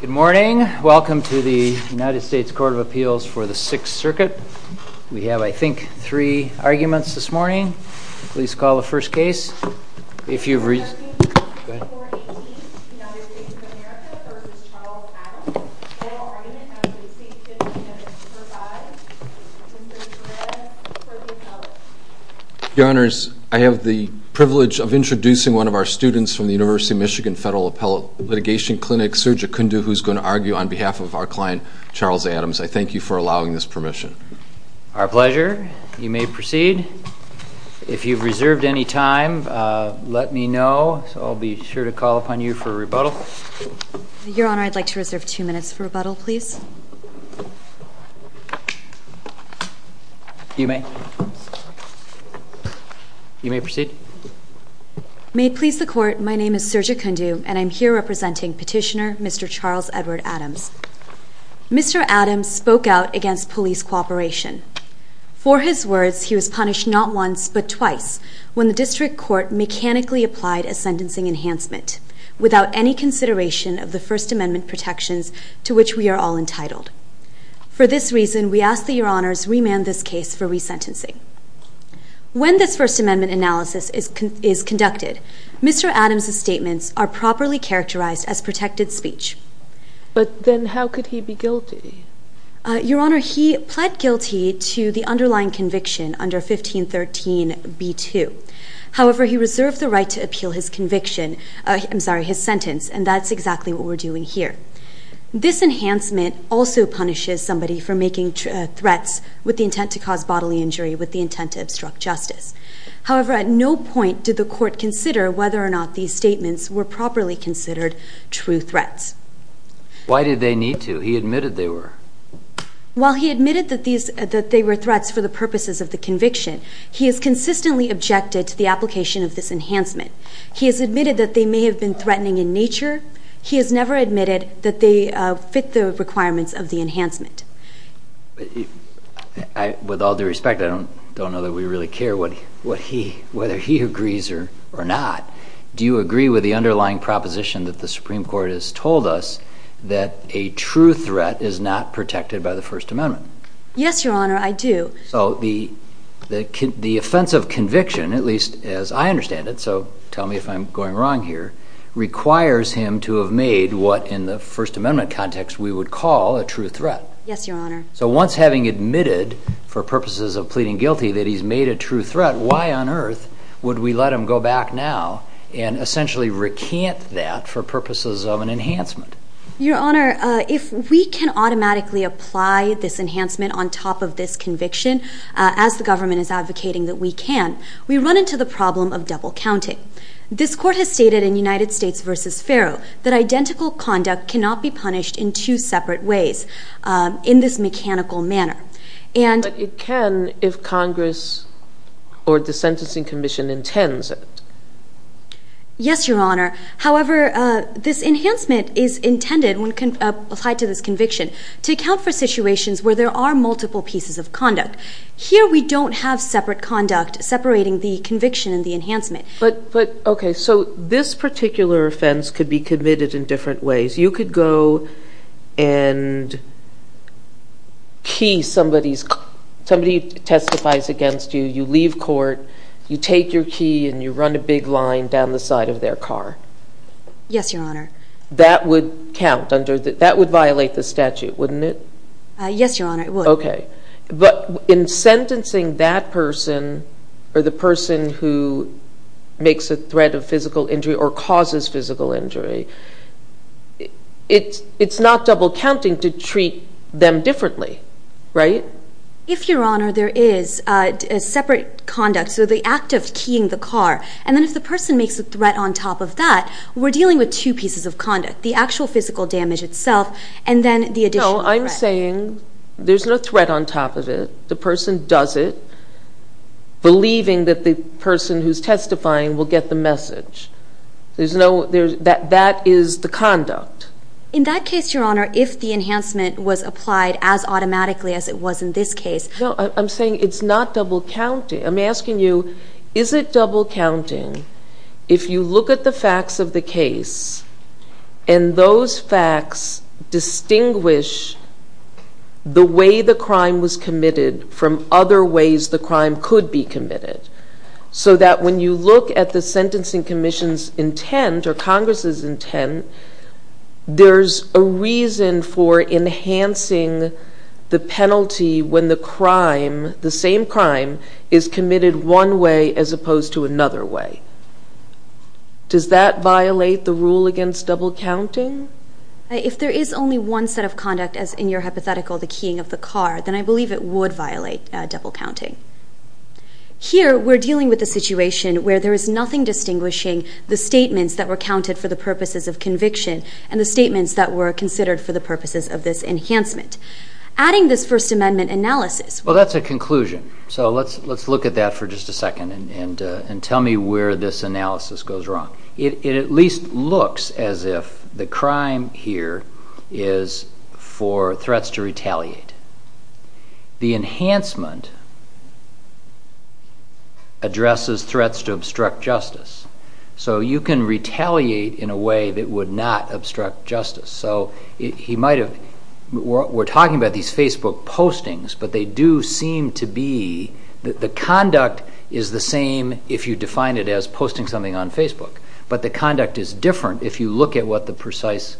Good morning. Welcome to the United States Court of Appeals for the Sixth Circuit. We have, I think, three arguments this morning. Please call the first case. If you've reasoned... Your Honors, I have the privilege of introducing one of our students from the University of Michigan Federal Appellate Litigation Clinic, Surjit Kundu, who's going to argue on behalf of our client, Charles Adams. I thank you for allowing this permission. Our pleasure. You may proceed. If you've reserved any time, let me know. I'll be sure to call upon you for a rebuttal. Your Honor, I'd like to reserve two minutes for rebuttal, please. You may. You may proceed. May it please the Court, my name is Surjit Kundu, and I'm here representing Petitioner Mr. Charles Edward Adams. Mr. Adams spoke out against police cooperation. For his words, he was punished not once but twice when the District Court mechanically applied a sentencing enhancement without any consideration of the First Amendment protections to which we are all entitled. For this reason, we ask that Your Honors remand this case for resentencing. When this First Amendment analysis is conducted, Mr. Adams' statements are properly characterized as protected speech. But then how could he be guilty? Your Honor, he pled guilty to the underlying conviction under 1513b2. However, he reserved the right to appeal his conviction, I'm sorry, his sentence, and that's exactly what we're doing here. This enhancement also punishes somebody for making threats with the intent to cause bodily injury, with the intent to obstruct justice. However, at no point did the Court consider whether or not these statements were properly considered true threats. Why did they need to? He admitted they were. While he admitted that they were threats for the purposes of the conviction, he has consistently objected to the application of this enhancement. He has admitted that they may have been threatening in nature. He has never admitted that they fit the requirements of the enhancement. With all due respect, I don't know that we really care whether he agrees or not. Do you agree with the underlying proposition that the Supreme Court has told us that a true threat is not protected by the First Amendment? Yes, Your Honor, I do. So the offense of conviction, at least as I understand it, so tell me if I'm going wrong here, requires him to have made what in the First Amendment context we would call a true threat. Yes, Your Honor. So once having admitted, for purposes of pleading guilty, that he's made a true threat, why on earth would we let him go back now and essentially recant that for purposes of an enhancement? Your Honor, if we can automatically apply this enhancement on top of this conviction, as the government is advocating that we can, we run into the problem of double counting. This Court has stated in United States v. Pharaoh that identical conduct cannot be punished in two separate ways, in this mechanical manner. But it can if Congress or the Sentencing Commission intends it. Yes, Your Honor. However, this enhancement is intended, when applied to this conviction, to account for situations where there are multiple pieces of conduct. But, okay, so this particular offense could be committed in different ways. You could go and key somebody's car. Somebody testifies against you, you leave court, you take your key, and you run a big line down the side of their car. Yes, Your Honor. That would count. That would violate the statute, wouldn't it? Yes, Your Honor, it would. Okay, but in sentencing that person, or the person who makes a threat of physical injury or causes physical injury, it's not double counting to treat them differently, right? If, Your Honor, there is separate conduct, so the act of keying the car, and then if the person makes a threat on top of that, we're dealing with two pieces of conduct, the actual physical damage itself and then the additional threat. No, I'm saying there's no threat on top of it. The person does it, believing that the person who's testifying will get the message. That is the conduct. In that case, Your Honor, if the enhancement was applied as automatically as it was in this case. No, I'm saying it's not double counting. I'm asking you, is it double counting if you look at the facts of the case and those facts distinguish the way the crime was committed from other ways the crime could be committed? So that when you look at the Sentencing Commission's intent or Congress's intent, there's a reason for enhancing the penalty when the crime, the same crime, is committed one way as opposed to another way. Does that violate the rule against double counting? If there is only one set of conduct as in your hypothetical, the keying of the car, then I believe it would violate double counting. Here, we're dealing with a situation where there is nothing distinguishing the statements that were counted for the purposes of conviction and the statements that were considered for the purposes of this enhancement. Adding this First Amendment analysis. Well, that's a conclusion, so let's look at that for just a second and tell me where this analysis goes wrong. It at least looks as if the crime here is for threats to retaliate. The enhancement addresses threats to obstruct justice. So you can retaliate in a way that would not obstruct justice. So he might have... We're talking about these Facebook postings, but they do seem to be... The conduct is the same if you define it as posting something on Facebook, but the conduct is different if you look at what the precise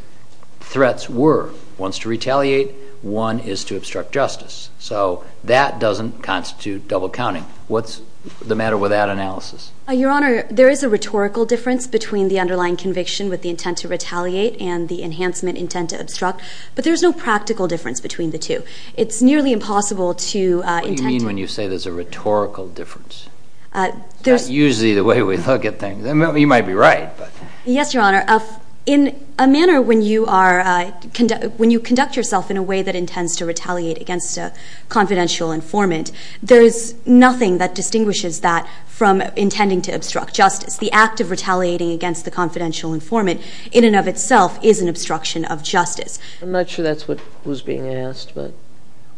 threats were. One's to retaliate. One is to obstruct justice. So that doesn't constitute double counting. What's the matter with that analysis? Your Honor, there is a rhetorical difference between the underlying conviction with the intent to retaliate and the enhancement intent to obstruct, but there's no practical difference between the two. It's nearly impossible to... What do you mean when you say there's a rhetorical difference? It's not usually the way we look at things. You might be right, but... Yes, Your Honor. In a manner when you conduct yourself in a way that intends to retaliate against a confidential informant, there is nothing that distinguishes that from intending to obstruct justice. The act of retaliating against the confidential informant in and of itself is an obstruction of justice. I'm not sure that's what was being asked, but...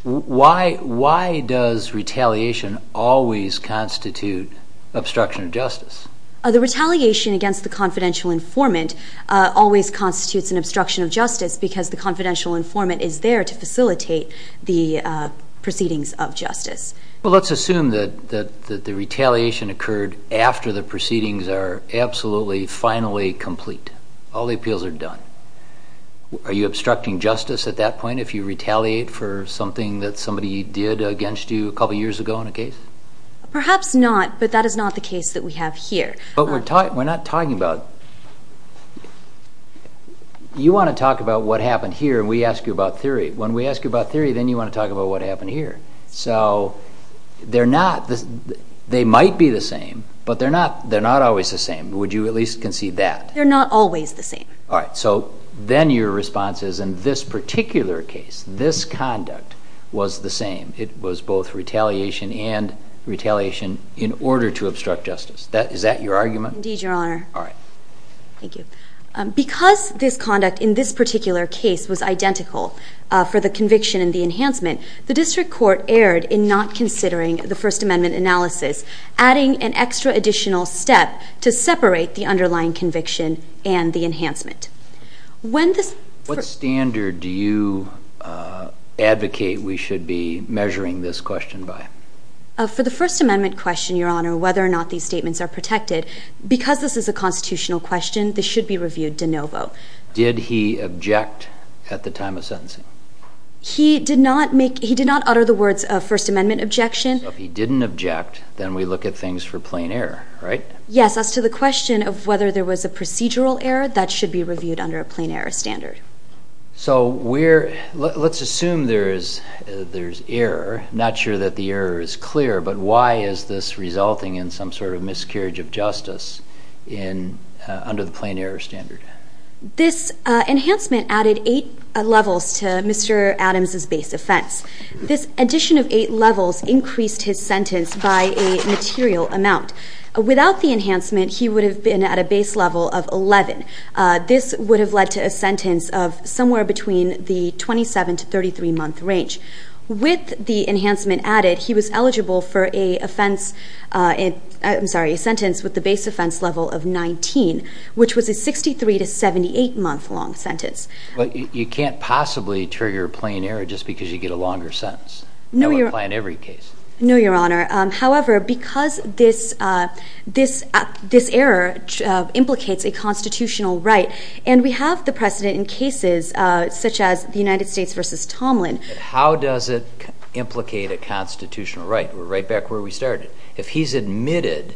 Why does retaliation always constitute obstruction of justice? The retaliation against the confidential informant always constitutes an obstruction of justice because the confidential informant is there to facilitate the proceedings of justice. Well, let's assume that the retaliation occurred after the proceedings are absolutely finally complete. All the appeals are done. Are you obstructing justice at that point if you retaliate for something that somebody did against you a couple of years ago in a case? Perhaps not, but that is not the case that we have here. But we're not talking about... You want to talk about what happened here and we ask you about theory. When we ask you about theory, then you want to talk about what happened here. So they're not... They might be the same, but they're not always the same. Would you at least concede that? They're not always the same. All right, so then your response is, in this particular case, this conduct was the same. It was both retaliation and retaliation in order to obstruct justice. Is that your argument? Indeed, Your Honor. All right. Thank you. Because this conduct in this particular case was identical for the conviction and the enhancement, the district court erred in not considering the First Amendment analysis, adding an extra additional step to separate the underlying conviction and the enhancement. When this... What standard do you advocate we should be measuring this question by? For the First Amendment question, Your Honor, whether or not these statements are protected, because this is a constitutional question, this should be reviewed de novo. Did he object at the time of sentencing? He did not make... He did not utter the words of First Amendment objection. So if he didn't object, then we look at things for plain error, right? Yes. As to the question of whether there was a procedural error, that should be reviewed under a plain error standard. So we're... Let's assume there's error. I'm not sure that the error is clear, but why is this resulting in some sort of miscarriage of justice under the plain error standard? This enhancement added 8 levels to Mr. Adams' base offense. This addition of 8 levels increased his sentence by a material amount. Without the enhancement, he would have been at a base level of 11. This would have led to a sentence of somewhere between the 27- to 33-month range. With the enhancement added, he was eligible for a offense... I'm sorry, a sentence with a base offense level of 19, which was a 63- to 78-month-long sentence. But you can't possibly trigger plain error just because you get a longer sentence. That wouldn't apply in every case. No, Your Honor. However, because this error implicates a constitutional right, and we have the precedent in cases such as the United States v. Tomlin... How does it implicate a constitutional right? We're right back where we started. If he's admitted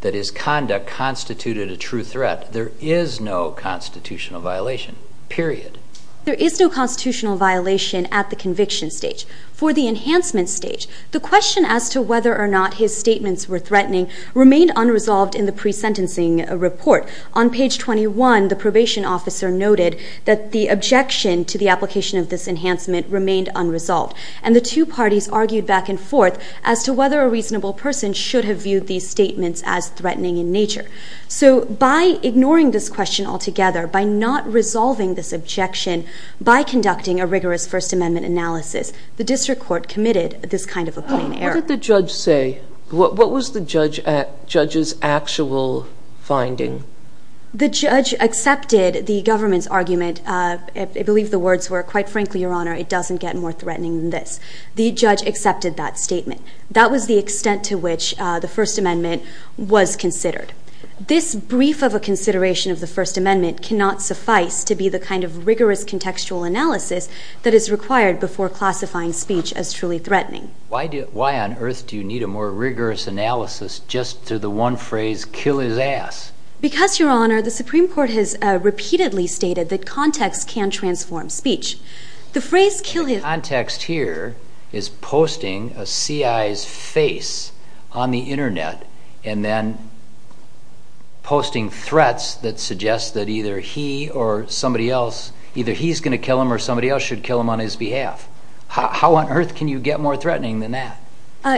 that his conduct constituted a true threat, there is no constitutional violation, period. There is no constitutional violation at the conviction stage. For the enhancement stage, the question as to whether or not his statements were threatening remained unresolved in the pre-sentencing report. On page 21, the probation officer noted that the objection to the application of this enhancement remained unresolved, and the two parties argued back and forth as to whether a reasonable person should have viewed these statements as threatening in nature. So by ignoring this question altogether, by not resolving this objection, by conducting a rigorous First Amendment analysis, the district court committed this kind of a plain error. What did the judge say? What was the judge's actual finding? The judge accepted the government's argument. I believe the words were, Quite frankly, Your Honor, it doesn't get more threatening than this. The judge accepted that statement. That was the extent to which the First Amendment was considered. This brief of a consideration of the First Amendment cannot suffice to be the kind of rigorous contextual analysis that is required before classifying speech as truly threatening. Why on earth do you need a more rigorous analysis just to the one phrase, kill his ass? Because, Your Honor, the Supreme Court has repeatedly stated that context can transform speech. The phrase kill his... The context here is posting a CI's face on the Internet and then posting threats that suggest that either he or somebody else, either he's going to kill him or somebody else should kill him on his behalf. How on earth can you get more threatening than that?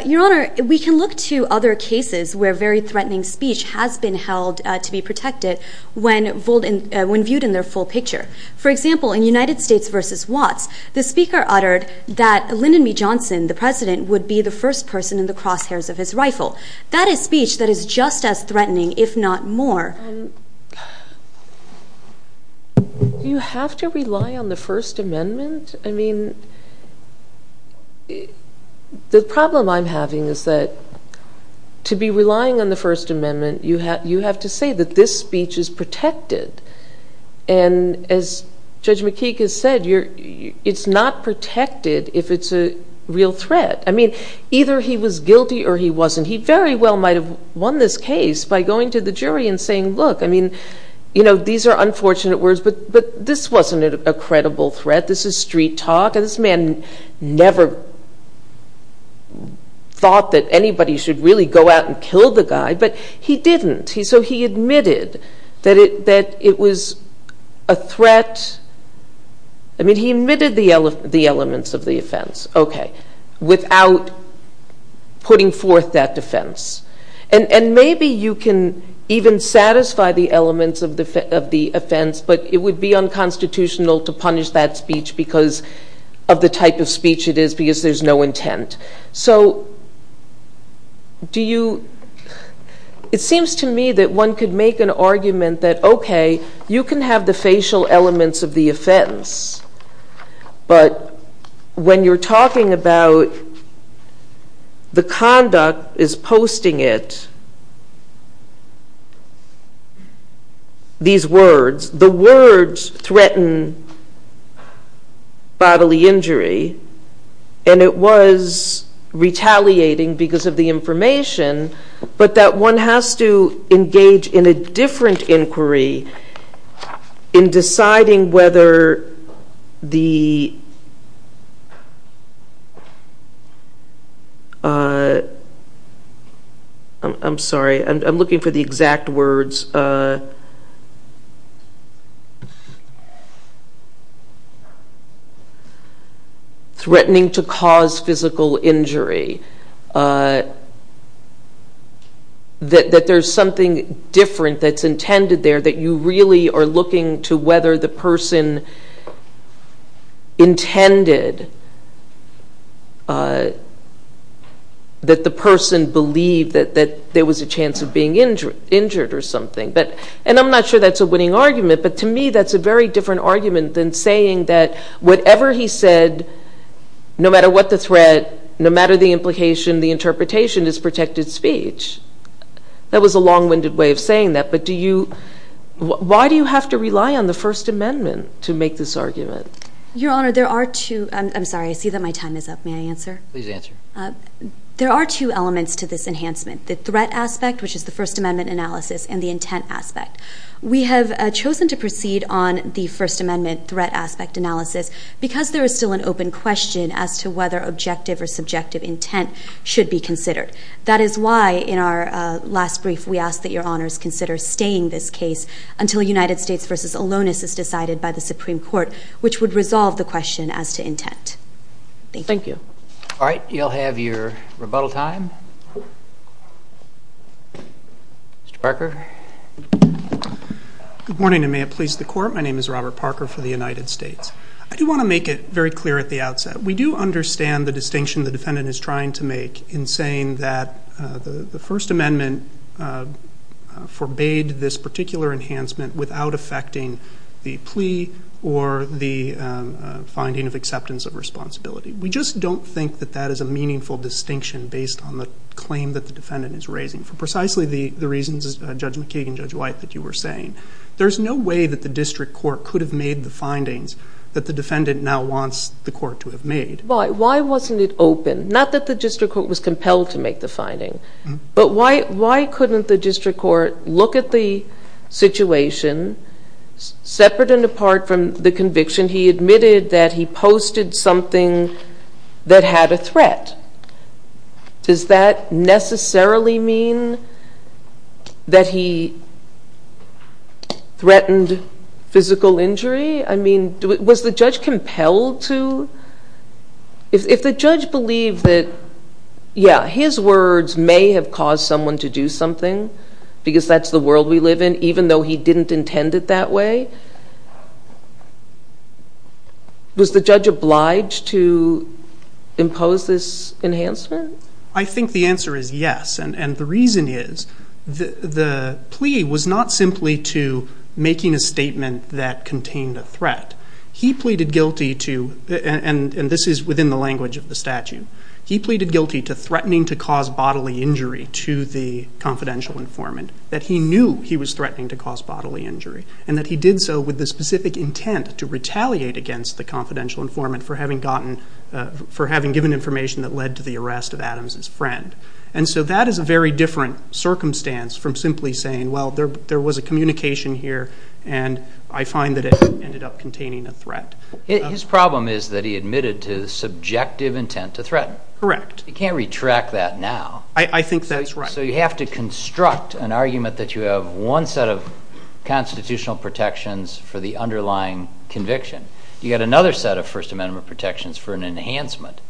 Your Honor, we can look to other cases where very threatening speech has been held to be protected when viewed in their full picture. For example, in United States v. Watts, the Speaker uttered that Lyndon B. Johnson, the President, would be the first person in the crosshairs of his rifle. That is speech that is just as threatening, if not more. Do you have to rely on the First Amendment? I mean, the problem I'm having is that to be relying on the First Amendment, you have to say that this speech is protected. And as Judge McKeek has said, it's not protected if it's a real threat. I mean, either he was guilty or he wasn't. He very well might have won this case by going to the jury and saying, look, I mean, you know, these are unfortunate words, but this wasn't a credible threat. This is street talk. This man never thought that anybody should really go out and kill the guy, but he didn't. So he admitted that it was a threat. I mean, he admitted the elements of the offense, okay, without putting forth that defense. And maybe you can even satisfy the elements of the offense, but it would be unconstitutional to punish that speech because of the type of speech it is, because there's no intent. So do you... It seems to me that one could make an argument that, okay, you can have the facial elements of the offense, but when you're talking about the conduct is posting it, these words, the words threaten bodily injury, and it was retaliating because of the information, but that one has to engage in a different inquiry in deciding whether the... I'm sorry, I'm looking for the exact words. Threatening to cause physical injury, that there's something different that's intended there that you really are looking to whether the person intended that the person believed that there was a chance of being injured or something. And I'm not sure that's a winning argument, but to me that's a very different argument than saying that whatever he said, no matter what the threat, no matter the implication, the interpretation is protected speech. That was a long-winded way of saying that, but do you... Why do you have to rely on the First Amendment to make this argument? Your Honor, there are two... I'm sorry, I see that my time is up. May I answer? Please answer. There are two elements to this enhancement, the threat aspect, which is the First Amendment analysis, and the intent aspect. We have chosen to proceed on the First Amendment threat aspect analysis because there is still an open question as to whether objective or subjective intent should be considered. That is why, in our last brief, we ask that Your Honors consider staying this case until a United States v. Alonis is decided by the Supreme Court, which would resolve the question as to intent. Thank you. Thank you. All right, you'll have your rebuttal time. Mr. Parker. Good morning, and may it please the Court. My name is Robert Parker for the United States. I do want to make it very clear at the outset. We do understand the distinction the defendant is trying to make in saying that the First Amendment forbade this particular enhancement without affecting the plea or the finding of acceptance of responsibility. We just don't think that that is a meaningful distinction based on the claim that the defendant is raising for precisely the reasons, Judge McKeegan, Judge White, that you were saying. There's no way that the district court could have made the findings that the defendant now wants the court to have made. Why? Why wasn't it open? Not that the district court was compelled to make the finding, but why couldn't the district court look at the situation separate and apart from the conviction he admitted that he posted something that had a threat? Does that necessarily mean that he threatened physical injury? I mean, was the judge compelled to? If the judge believed that, yeah, his words may have caused someone to do something because that's the world we live in, even though he didn't intend it that way, was the judge obliged to impose this enhancement? I think the answer is yes, and the reason is the plea was not simply to making a statement that contained a threat. He pleaded guilty to, and this is within the language of the statute, he pleaded guilty to threatening to cause bodily injury to the confidential informant, that he knew he was threatening to cause bodily injury, and that he did so with the specific intent to retaliate against the confidential informant for having given information that led to the arrest of Adams' friend. And so that is a very different circumstance from simply saying, well, there was a communication here, and I find that it ended up containing a threat. His problem is that he admitted to subjective intent to threaten. Correct. You can't retract that now. I think that's right. So you have to construct an argument that you have one set of constitutional protections for the underlying conviction. You've got another set of First Amendment protections for an enhancement,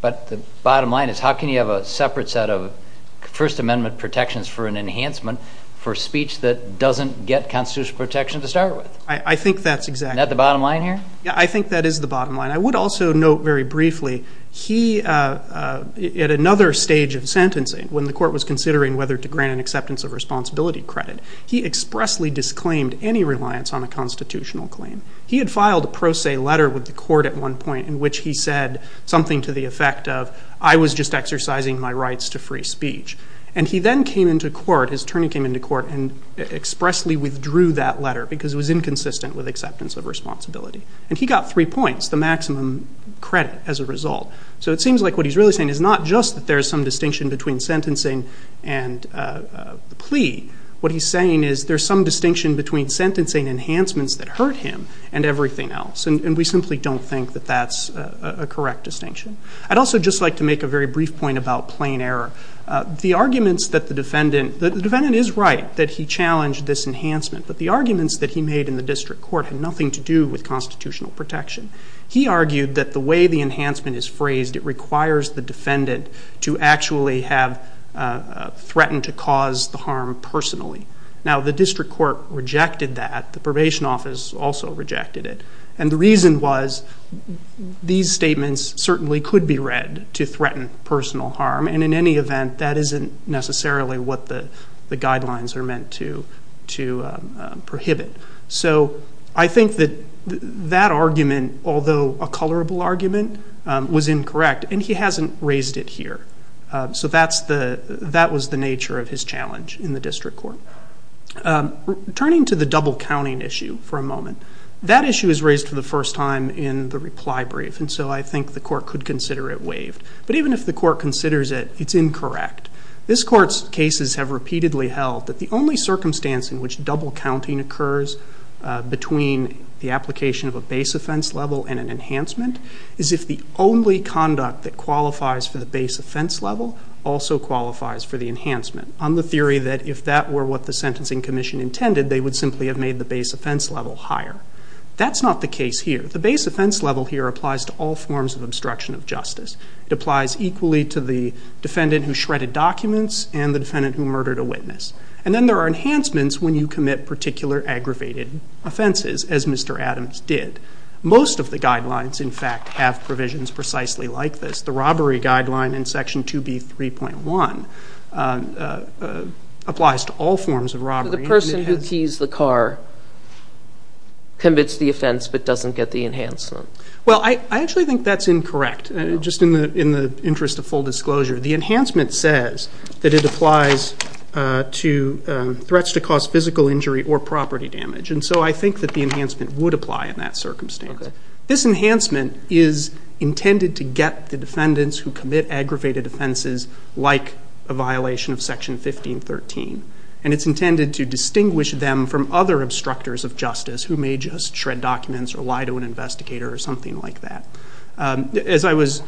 but the bottom line is how can you have a separate set of First Amendment protections for an enhancement for speech that doesn't get constitutional protection to start with? I think that's exactly right. Isn't that the bottom line here? I think that is the bottom line. I would also note very briefly he, at another stage of sentencing, when the court was considering whether to grant an acceptance of responsibility credit, he expressly disclaimed any reliance on a constitutional claim. He had filed a pro se letter with the court at one point in which he said something to the effect of, I was just exercising my rights to free speech. And he then came into court, his attorney came into court, and expressly withdrew that letter because it was inconsistent with acceptance of responsibility. And he got three points, the maximum credit as a result. So it seems like what he's really saying is not just that there's some distinction between sentencing and the plea. What he's saying is there's some distinction between sentencing enhancements that hurt him and everything else, and we simply don't think that that's a correct distinction. I'd also just like to make a very brief point about plain error. The arguments that the defendant – the defendant is right that he challenged this enhancement, but the arguments that he made in the district court had nothing to do with constitutional protection. He argued that the way the enhancement is phrased, it requires the defendant to actually have threatened to cause the harm personally. Now, the district court rejected that. The probation office also rejected it. And the reason was these statements certainly could be read to threaten personal harm, and in any event, that isn't necessarily what the guidelines are meant to prohibit. So I think that that argument, although a colorable argument, was incorrect, and he hasn't raised it here. So that was the nature of his challenge in the district court. Turning to the double counting issue for a moment, that issue was raised for the first time in the reply brief, and so I think the court could consider it waived. But even if the court considers it, it's incorrect. This court's cases have repeatedly held that the only circumstance in which double counting occurs between the application of a base offense level and an enhancement is if the only conduct that qualifies for the base offense level also qualifies for the enhancement, on the theory that if that were what the sentencing commission intended, they would simply have made the base offense level higher. That's not the case here. The base offense level here applies to all forms of obstruction of justice. It applies equally to the defendant who shredded documents and the defendant who murdered a witness. And then there are enhancements when you commit particular aggravated offenses, as Mr. Adams did. Most of the guidelines, in fact, have provisions precisely like this. The robbery guideline in Section 2B.3.1 applies to all forms of robbery. The person who keys the car commits the offense but doesn't get the enhancement. Well, I actually think that's incorrect. Just in the interest of full disclosure, the enhancement says that it applies to threats to cause physical injury or property damage, and so I think that the enhancement would apply in that circumstance. This enhancement is intended to get the defendants who commit aggravated offenses like a violation of Section 15.13, and it's intended to distinguish them from other obstructors of justice who may just shred documents or lie to an investigator or something like that. As I was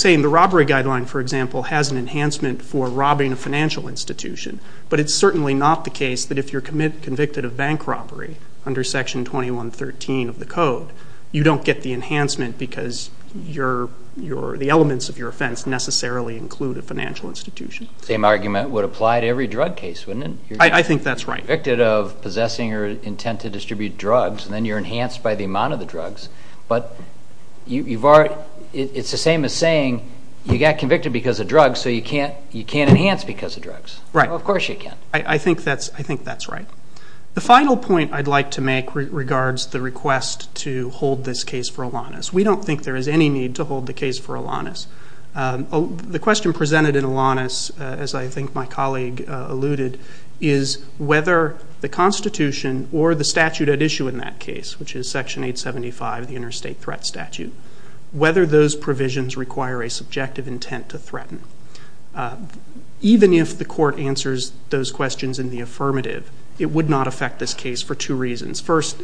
saying, the robbery guideline, for example, has an enhancement for robbing a financial institution, but it's certainly not the case that if you're convicted of bank robbery under Section 21.13 of the Code, you don't get the enhancement because the elements of your offense necessarily include a financial institution. The same argument would apply to every drug case, wouldn't it? I think that's right. You're convicted of possessing or intent to distribute drugs, and then you're enhanced by the amount of the drugs, but it's the same as saying you got convicted because of drugs, so you can't enhance because of drugs. Of course you can. I think that's right. The final point I'd like to make regards the request to hold this case for Alanis. We don't think there is any need to hold the case for Alanis. The question presented in Alanis, as I think my colleague alluded, is whether the Constitution or the statute at issue in that case, which is Section 875 of the Interstate Threat Statute, whether those provisions require a subjective intent to threaten. Even if the court answers those questions in the affirmative, it would not affect this case for two reasons. First,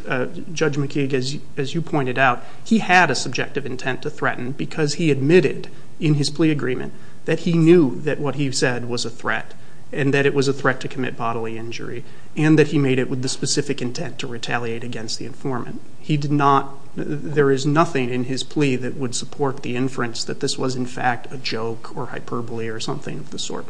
Judge McKeague, as you pointed out, he had a subjective intent to threaten because he admitted in his plea agreement that he knew that what he said was a threat and that it was a threat to commit bodily injury, and that he made it with the specific intent to retaliate against the informant. There is nothing in his plea that would support the inference that this was, in fact, a joke or hyperbole or something of the sort.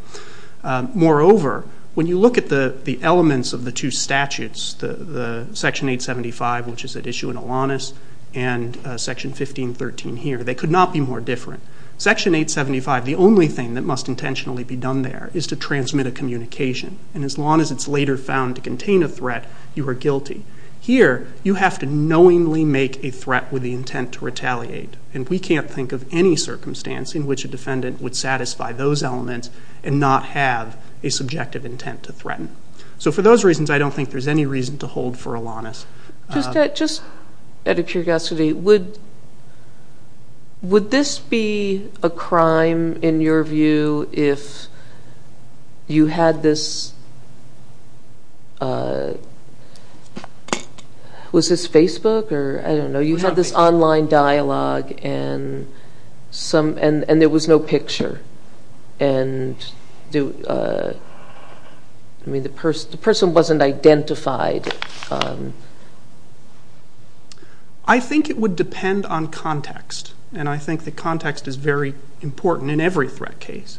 Moreover, when you look at the elements of the two statutes, Section 875, which is at issue in Alanis, and Section 1513 here, they could not be more different. Section 875, the only thing that must intentionally be done there, is to transmit a communication. And as long as it's later found to contain a threat, you are guilty. Here, you have to knowingly make a threat with the intent to retaliate, and we can't think of any circumstance in which a defendant would satisfy those elements and not have a subjective intent to threaten. So for those reasons, I don't think there's any reason to hold for Alanis. Just out of curiosity, would this be a crime, in your view, if you had this, was this Facebook, or I don't know, you had this online dialogue and there was no picture, and the person wasn't identified? I think it would depend on context, and I think that context is very important in every threat case.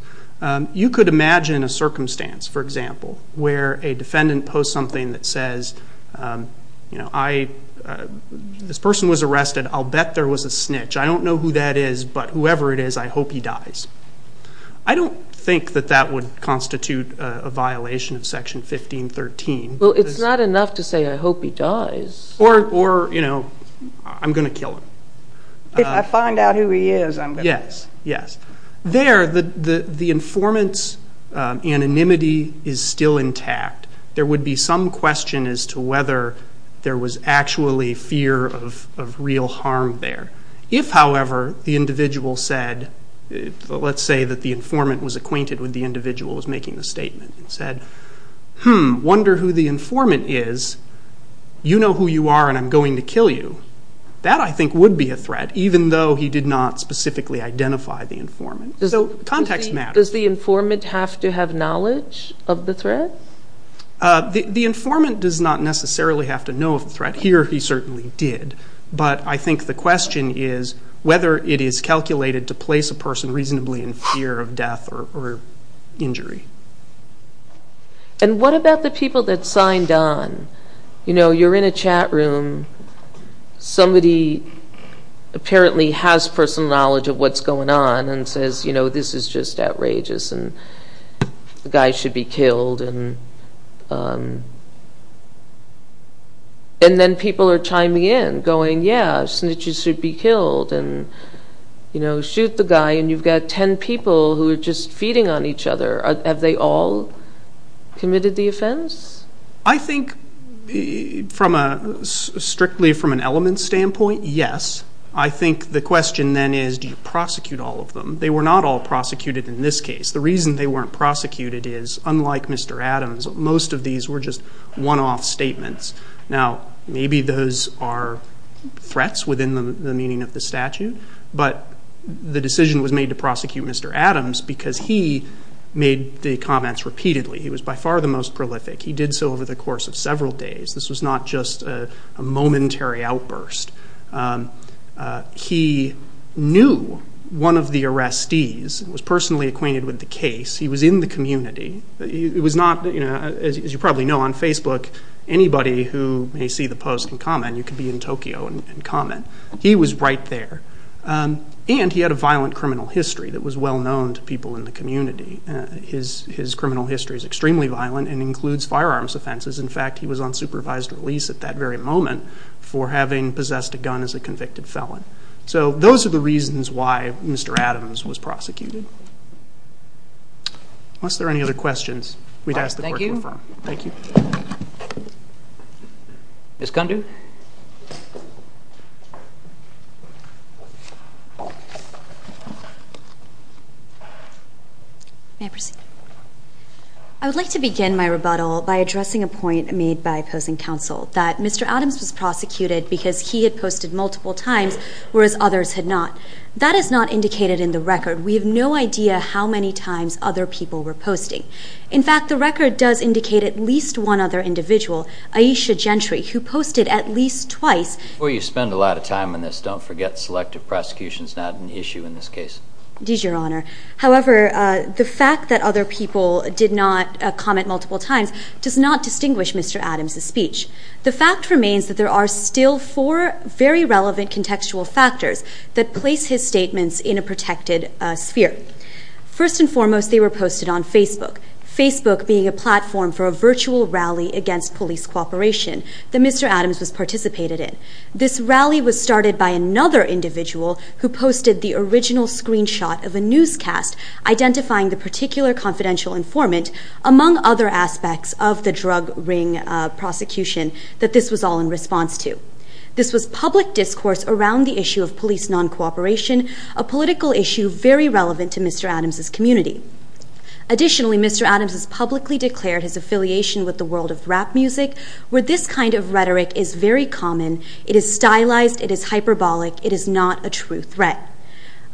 You could imagine a circumstance, for example, where a defendant posts something that says, this person was arrested, I'll bet there was a snitch. I don't know who that is, but whoever it is, I hope he dies. I don't think that that would constitute a violation of Section 1513. Well, it's not enough to say, I hope he dies. Or, you know, I'm going to kill him. If I find out who he is, I'm going to kill him. Yes, yes. There, the informant's anonymity is still intact. There would be some question as to whether there was actually fear of real harm there. If, however, the individual said, let's say that the informant was acquainted with the individual who was making the statement, and said, hmm, wonder who the informant is, you know who you are and I'm going to kill you. That, I think, would be a threat, even though he did not specifically identify the informant. So context matters. Does the informant have to have knowledge of the threat? The informant does not necessarily have to know of the threat. Here, he certainly did. But I think the question is whether it is calculated to place a person reasonably in fear of death or injury. And what about the people that signed on? You know, you're in a chat room. Somebody apparently has personal knowledge of what's going on and says, you know, this is just outrageous, and the guy should be killed. And then people are chiming in, going, yeah, snitches should be killed, and, you know, shoot the guy, and you've got ten people who are just feeding on each other. Have they all committed the offense? I think, strictly from an elements standpoint, yes. I think the question then is, do you prosecute all of them? They were not all prosecuted in this case. The reason they weren't prosecuted is, unlike Mr. Adams, most of these were just one-off statements. Now, maybe those are threats within the meaning of the statute, but the decision was made to prosecute Mr. Adams because he made the comments repeatedly. He was by far the most prolific. He did so over the course of several days. This was not just a momentary outburst. He knew one of the arrestees and was personally acquainted with the case. He was in the community. It was not, as you probably know on Facebook, anybody who may see the post can comment. You can be in Tokyo and comment. He was right there. And he had a violent criminal history that was well known to people in the community. His criminal history is extremely violent and includes firearms offenses. In fact, he was on supervised release at that very moment for having possessed a gun as a convicted felon. So those are the reasons why Mr. Adams was prosecuted. Unless there are any other questions, we'd ask the clerk to refer. Thank you. Ms. Condu. May I proceed? I would like to begin my rebuttal by addressing a point made by opposing counsel that Mr. Adams was prosecuted because he had posted multiple times, whereas others had not. That is not indicated in the record. We have no idea how many times other people were posting. In fact, the record does indicate at least one other individual, Aisha Gentry, who posted at least twice. Before you spend a lot of time on this, don't forget selective prosecution is not an issue in this case. It is, Your Honor. However, the fact that other people did not comment multiple times does not distinguish Mr. Adams' speech. The fact remains that there are still four very relevant contextual factors that place his statements in a protected sphere. First and foremost, they were posted on Facebook, Facebook being a platform for a virtual rally against police cooperation that Mr. Adams was participated in. This rally was started by another individual who posted the original screenshot of a newscast identifying the particular confidential informant, among other aspects of the drug ring prosecution, that this was all in response to. This was public discourse around the issue of police non-cooperation, a political issue very relevant to Mr. Adams' community. Additionally, Mr. Adams has publicly declared his affiliation with the world of rap music, where this kind of rhetoric is very common. It is stylized. It is hyperbolic. It is not a true threat.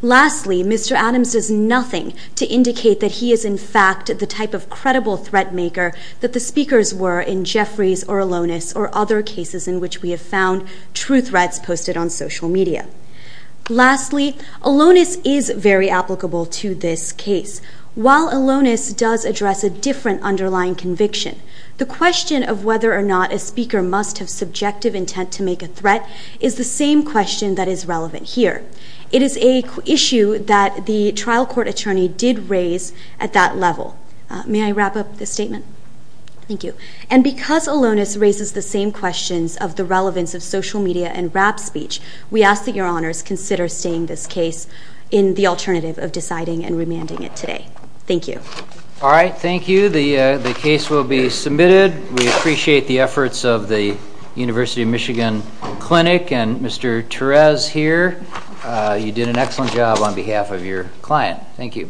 Lastly, Mr. Adams does nothing to indicate that he is, in fact, the type of credible threat maker that the speakers were in Jeffries or Alonis or other cases in which we have found true threats posted on social media. Lastly, Alonis is very applicable to this case. While Alonis does address a different underlying conviction, the question of whether or not a speaker must have subjective intent to make a threat is the same question that is relevant here. It is an issue that the trial court attorney did raise at that level. May I wrap up this statement? Thank you. And because Alonis raises the same questions of the relevance of social media and rap speech, we ask that your honors consider staying this case in the alternative of deciding and remanding it today. Thank you. All right. Thank you. The case will be submitted. We appreciate the efforts of the University of Michigan Clinic and Mr. Torres here. You did an excellent job on behalf of your client. Thank you.